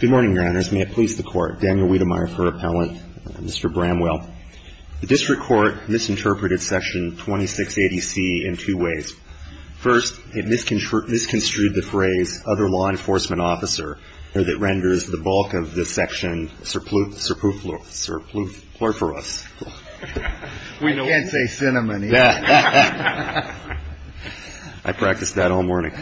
Good morning, Your Honors. May it please the Court, Daniel Wiedemeyer for Appellant, Mr. Bramwell. The District Court misinterpreted Section 2680C in two ways. First, it misconstrued the phrase, other law enforcement officer, that renders the bulk of the section surplus, surplus, surplus, pluriferous. We can't say cinnamony. I practiced that all morning.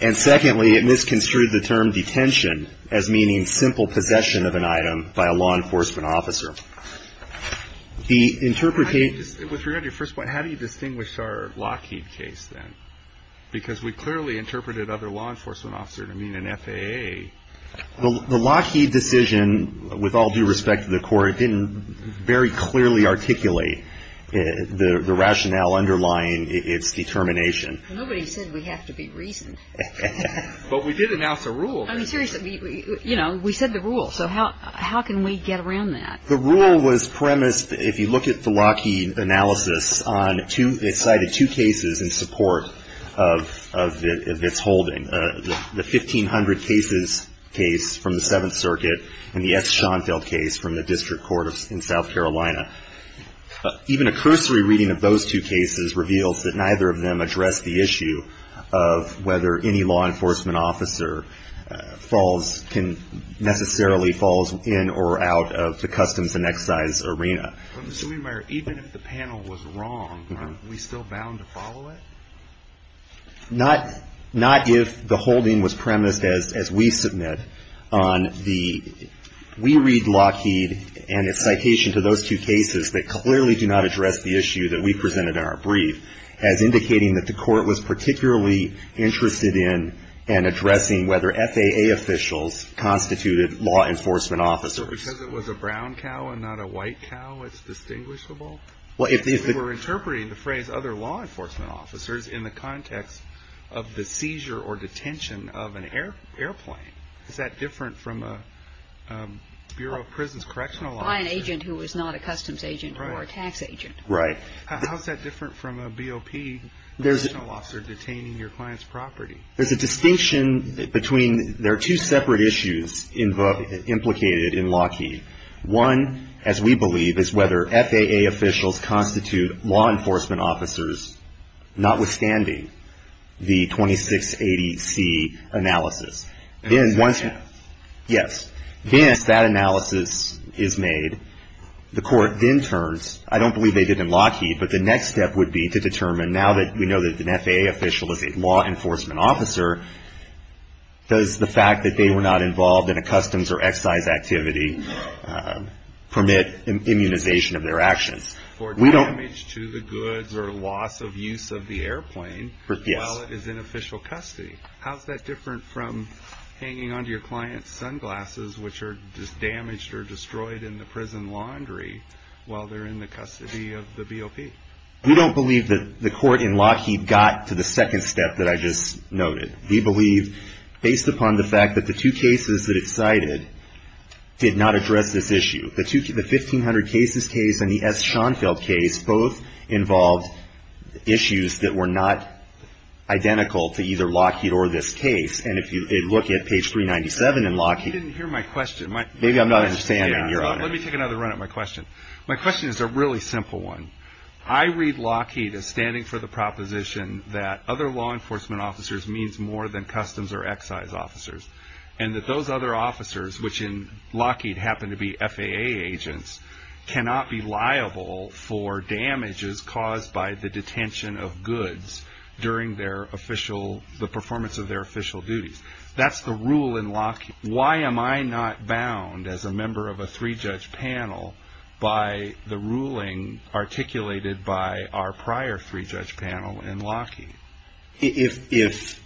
And secondly, it misconstrued the term, detention, as meaning simple possession of an item by a law enforcement officer. With regard to your first point, how do you distinguish our Lockheed case then? Because we clearly interpreted other law enforcement officer to mean an FAA. The Lockheed decision, with all due respect to the Court, didn't very clearly articulate the rationale underlying its determination. Nobody said we have to be reasoned. But we did announce a rule. I mean, seriously, you know, we said the rule. So how can we get around that? The rule was premised, if you look at the Lockheed analysis, on two, it cited two cases in support of its holding, the 1500 cases case from the Seventh Circuit and the S. Schoenfeld case from the District Court in South Carolina. Even a cursory reading of those two cases reveals that neither of them address the issue of whether any law enforcement officer falls, can necessarily, falls in or out of the customs and excise arena. But, Mr. Schoenfeld, even if the panel was wrong, aren't we still bound to follow it? Not if the holding was premised, as we submit, on the, we read Lockheed and its citation to those two cases that clearly do not address the issue that we presented in our brief as indicating that the Court was particularly interested in and addressing whether FAA officials constituted law enforcement officers. So because it was a brown cow and not a white cow, it's distinguishable? We were interpreting the phrase other law enforcement officers in the context of the seizure or detention of an airplane. Is that different from a Bureau of Prisons correctional officer? By an agent who is not a customs agent or a tax agent. Right. How is that different from a BOP correctional officer detaining your client's property? There's a distinction between, there are two separate issues implicated in Lockheed. One, as we believe, is whether FAA officials constitute law enforcement officers, notwithstanding the 2680C analysis. Yes. Then, as that analysis is made, the Court then turns, I don't believe they did in Lockheed, but the next step would be to determine, now that we know that an FAA official is a law enforcement officer, does the fact that they were not involved in a customs or excise activity permit immunization of their actions? For damage to the goods or loss of use of the airplane while it is in official custody. How is that different from hanging onto your client's sunglasses, which are just damaged or destroyed in the prison laundry, while they're in the custody of the BOP? We don't believe that the Court in Lockheed got to the second step that I just noted. We believe, based upon the fact that the two cases that it cited did not address this issue. The 1500 Cases case and the S. Schoenfeld case both involved issues that were not identical to either Lockheed or this case. And if you look at page 397 in Lockheed. You didn't hear my question. Maybe I'm not understanding, Your Honor. Let me take another run at my question. My question is a really simple one. I read Lockheed as standing for the proposition that other law enforcement officers means more than customs or excise officers. And that those other officers, which in Lockheed happen to be FAA agents, cannot be liable for damages caused by the detention of goods during the performance of their official duties. That's the rule in Lockheed. Why am I not bound as a member of a three-judge panel by the ruling articulated by our prior three-judge panel in Lockheed? If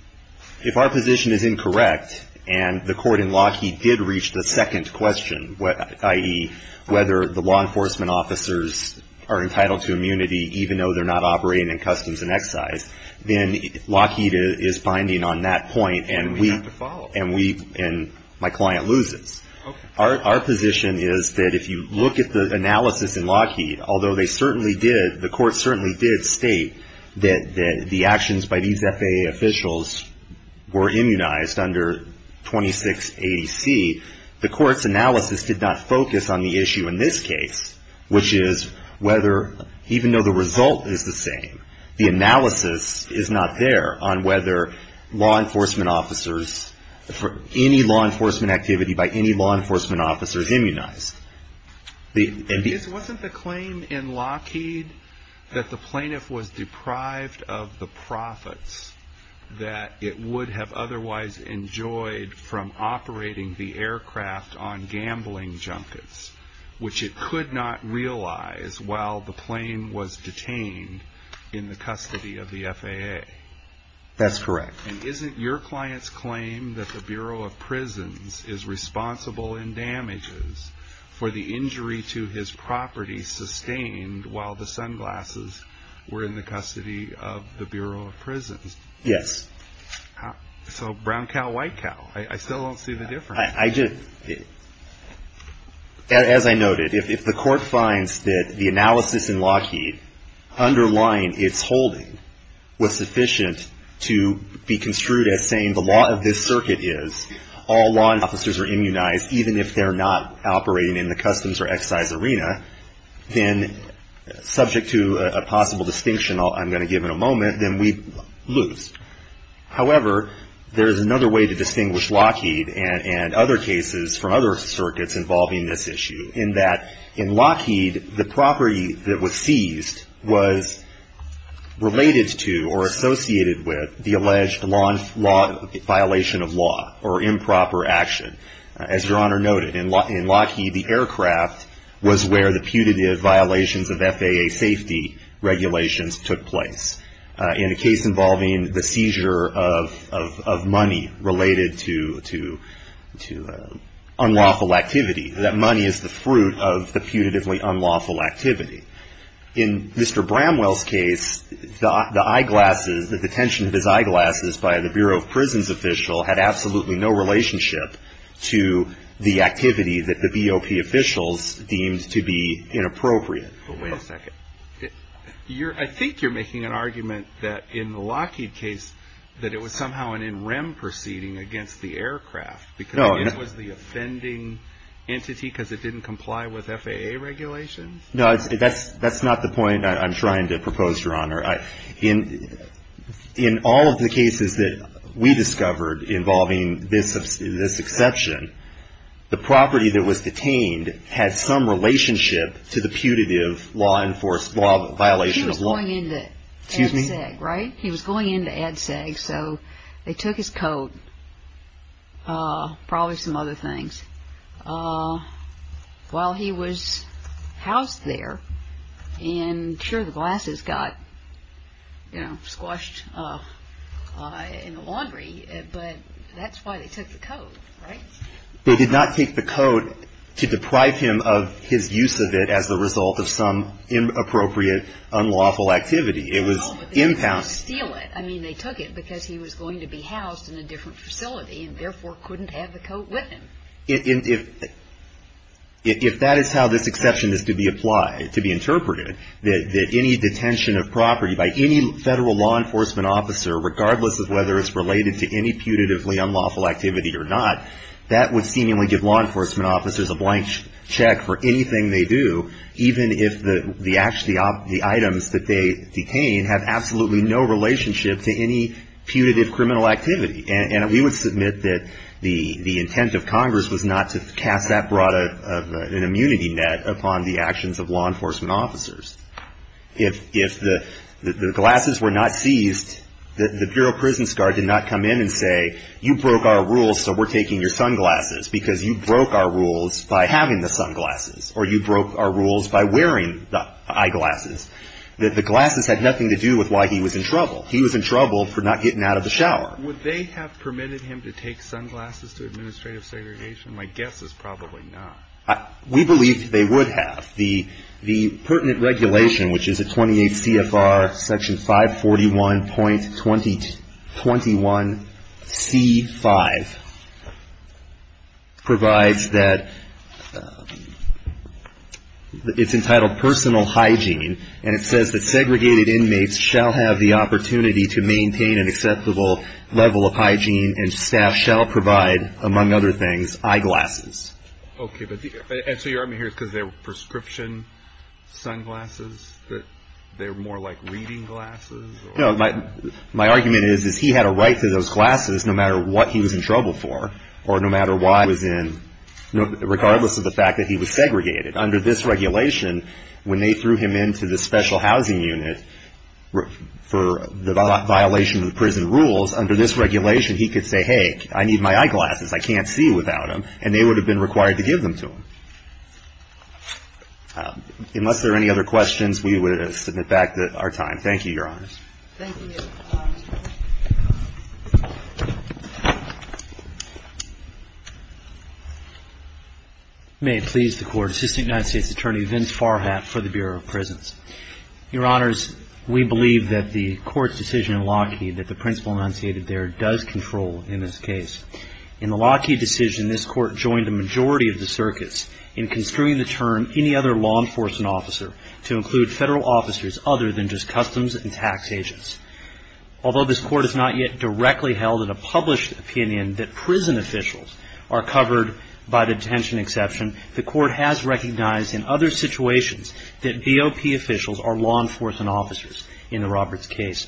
our position is incorrect and the Court in Lockheed did reach the second question, i.e., whether the law enforcement officers are entitled to immunity even though they're not operating in customs and excise, then Lockheed is binding on that point. And we have to follow. And my client loses. Okay. Our position is that if you look at the analysis in Lockheed, although they certainly did, the Court certainly did state that the actions by these FAA officials were immunized under 2680C, the Court's analysis did not focus on the issue in this case, which is whether even though the result is the same, the analysis is not there on whether any law enforcement activity by any law enforcement officer is immunized. Wasn't the claim in Lockheed that the plaintiff was deprived of the profits that it would have otherwise enjoyed from operating the aircraft on gambling junkets, which it could not realize while the plane was detained in the custody of the FAA? That's correct. And isn't your client's claim that the Bureau of Prisons is responsible in damages for the injury to his property sustained while the sunglasses were in the custody of the Bureau of Prisons? Yes. So brown cow, white cow. I still don't see the difference. As I noted, if the Court finds that the analysis in Lockheed underlying its holding was sufficient to be construed as saying the law of this circuit is all law enforcement officers are immunized even if they're not operating in the customs or excise arena, then subject to a possible distinction I'm going to give in a moment, then we lose. However, there is another way to distinguish Lockheed and other cases from other circuits involving this issue, in that in Lockheed the property that was seized was related to or associated with the alleged violation of law or improper action. As Your Honor noted, in Lockheed the aircraft was where the putative violations of FAA safety regulations took place. In a case involving the seizure of money related to unlawful activity, that money is the fruit of the putatively unlawful activity. In Mr. Bramwell's case, the eyeglasses, the detention of his eyeglasses by the Bureau of Prisons official had absolutely no relationship to the activity that the BOP officials deemed to be inappropriate. Wait a second. I think you're making an argument that in the Lockheed case that it was somehow an NREM proceeding against the aircraft because it was the offending entity because it didn't comply with FAA regulations? No, that's not the point I'm trying to propose, Your Honor. In all of the cases that we discovered involving this exception, the property that was detained had some relationship to the putative violation of law. He was going into ADSEG, right? He was going into ADSEG, so they took his coat, probably some other things, while he was housed there. And sure, the glasses got squashed in the laundry, but that's why they took the coat, right? They did not take the coat to deprive him of his use of it as the result of some inappropriate unlawful activity. It was impounded. No, but they didn't want to steal it. I mean, they took it because he was going to be housed in a different facility and therefore couldn't have the coat with him. If that is how this exception is to be applied, to be interpreted, that any detention of property by any federal law enforcement officer, regardless of whether it's related to any putatively unlawful activity or not, that would seemingly give law enforcement officers a blank check for anything they do, even if the items that they detain have absolutely no relationship to any putative criminal activity. And we would submit that the intent of Congress was not to cast that broad of an immunity net upon the actions of law enforcement officers. If the glasses were not seized, the Bureau of Prisons Guard did not come in and say, you broke our rules, so we're taking your sunglasses, because you broke our rules by having the sunglasses, or you broke our rules by wearing the eyeglasses. The glasses had nothing to do with why he was in trouble. He was in trouble for not getting out of the shower. Would they have permitted him to take sunglasses to administrative segregation? My guess is probably not. We believe they would have. The pertinent regulation, which is at 28 CFR Section 541.21C5, provides that it's entitled personal hygiene, and it says that segregated inmates shall have the opportunity to maintain an acceptable level of hygiene, and staff shall provide, among other things, eyeglasses. Okay. So your argument here is because they were prescription sunglasses, that they were more like reading glasses? No. My argument is, is he had a right to those glasses no matter what he was in trouble for, or no matter why he was in, regardless of the fact that he was segregated. Under this regulation, when they threw him into the special housing unit for the violation of the prison rules, under this regulation, he could say, hey, I need my eyeglasses. I can't see without them. And they would have been required to give them to him. Unless there are any other questions, we would submit back to our time. Thank you, Your Honors. Thank you. May it please the Court. Assistant United States Attorney Vince Farhat for the Bureau of Prisons. Your Honors, we believe that the Court's decision in Lockheed that the Principal enunciated there does control in this case. In the Lockheed decision, this Court joined a majority of the circuits in construing the term any other law enforcement officer to include Federal officers other than just customs and tax agents. Although this Court has not yet directly held in a published opinion that prison officials are covered by detention exception, the Court has recognized in other situations that BOP officials are law enforcement officers in the Roberts case.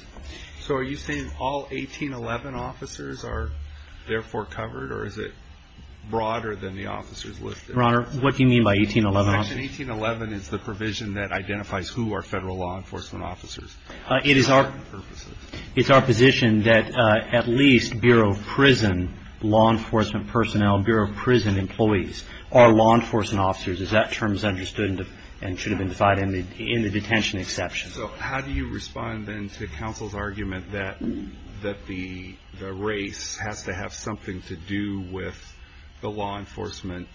So are you saying all 1811 officers are therefore covered, or is it broader than the officers listed? Your Honor, what do you mean by 1811 officers? Section 1811 is the provision that identifies who are Federal law enforcement officers. It is our position that at least Bureau of Prison law enforcement personnel, Bureau of Prison employees, are law enforcement officers as that term is understood and should have been defined in the detention exception. So how do you respond then to counsel's argument that the race has to have something to do with the law enforcement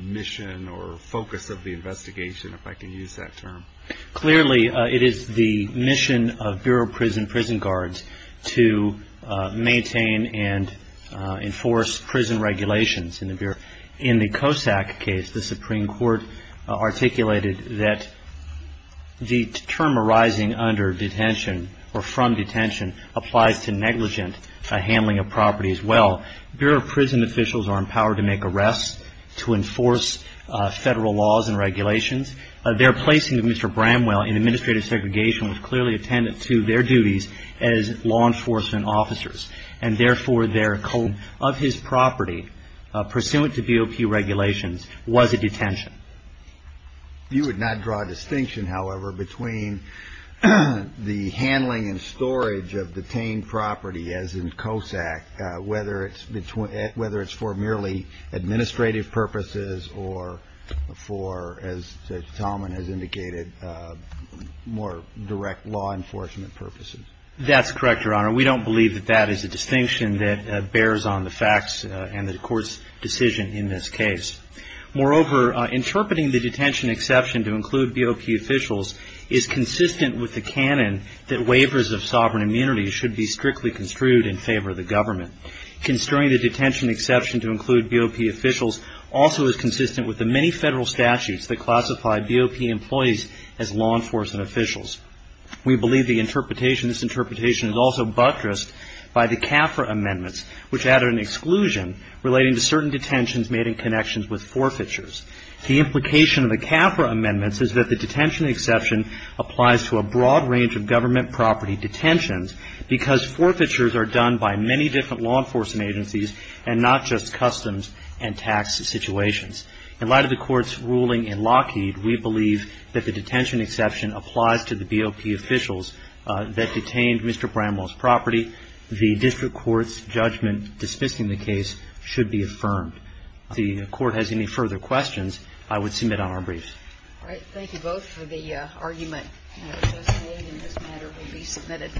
mission or focus of the investigation, if I can use that term? Clearly, it is the mission of Bureau of Prison prison guards to maintain and enforce prison regulations in the Bureau. In the Cossack case, the Supreme Court articulated that the term arising under detention or from detention applies to negligent handling of property as well. Bureau of Prison officials are empowered to make arrests to enforce Federal laws and regulations. Their placing of Mr. Bramwell in administrative segregation was clearly attendant to their duties as law enforcement officers. And therefore, of his property, pursuant to BOP regulations, was a detention. You would not draw a distinction, however, between the handling and storage of detained property as in Cossack, whether it's for merely administrative purposes or for, as Mr. Talman has indicated, more direct law enforcement purposes. That's correct, Your Honor. We don't believe that that is a distinction that bears on the facts and the court's decision in this case. Moreover, interpreting the detention exception to include BOP officials is consistent with the canon that waivers of sovereign immunity should be strictly construed in favor of the government. Construing the detention exception to include BOP officials also is consistent with the many Federal statutes that classify BOP employees as law enforcement officials. We believe the interpretation, this interpretation, is also buttressed by the CAFRA amendments, which added an exclusion relating to certain detentions made in connections with forfeitures. The implication of the CAFRA amendments is that the detention exception applies to a broad range of government property detentions because forfeitures are done by many different law enforcement agencies and not just customs and tax situations. In light of the Court's ruling in Lockheed, we believe that the detention exception applies to the BOP officials that detained Mr. Bramwell's property. The district court's judgment dismissing the case should be affirmed. If the Court has any further questions, I would submit on our brief. All right. Thank you both for the argument. This matter will be submitted.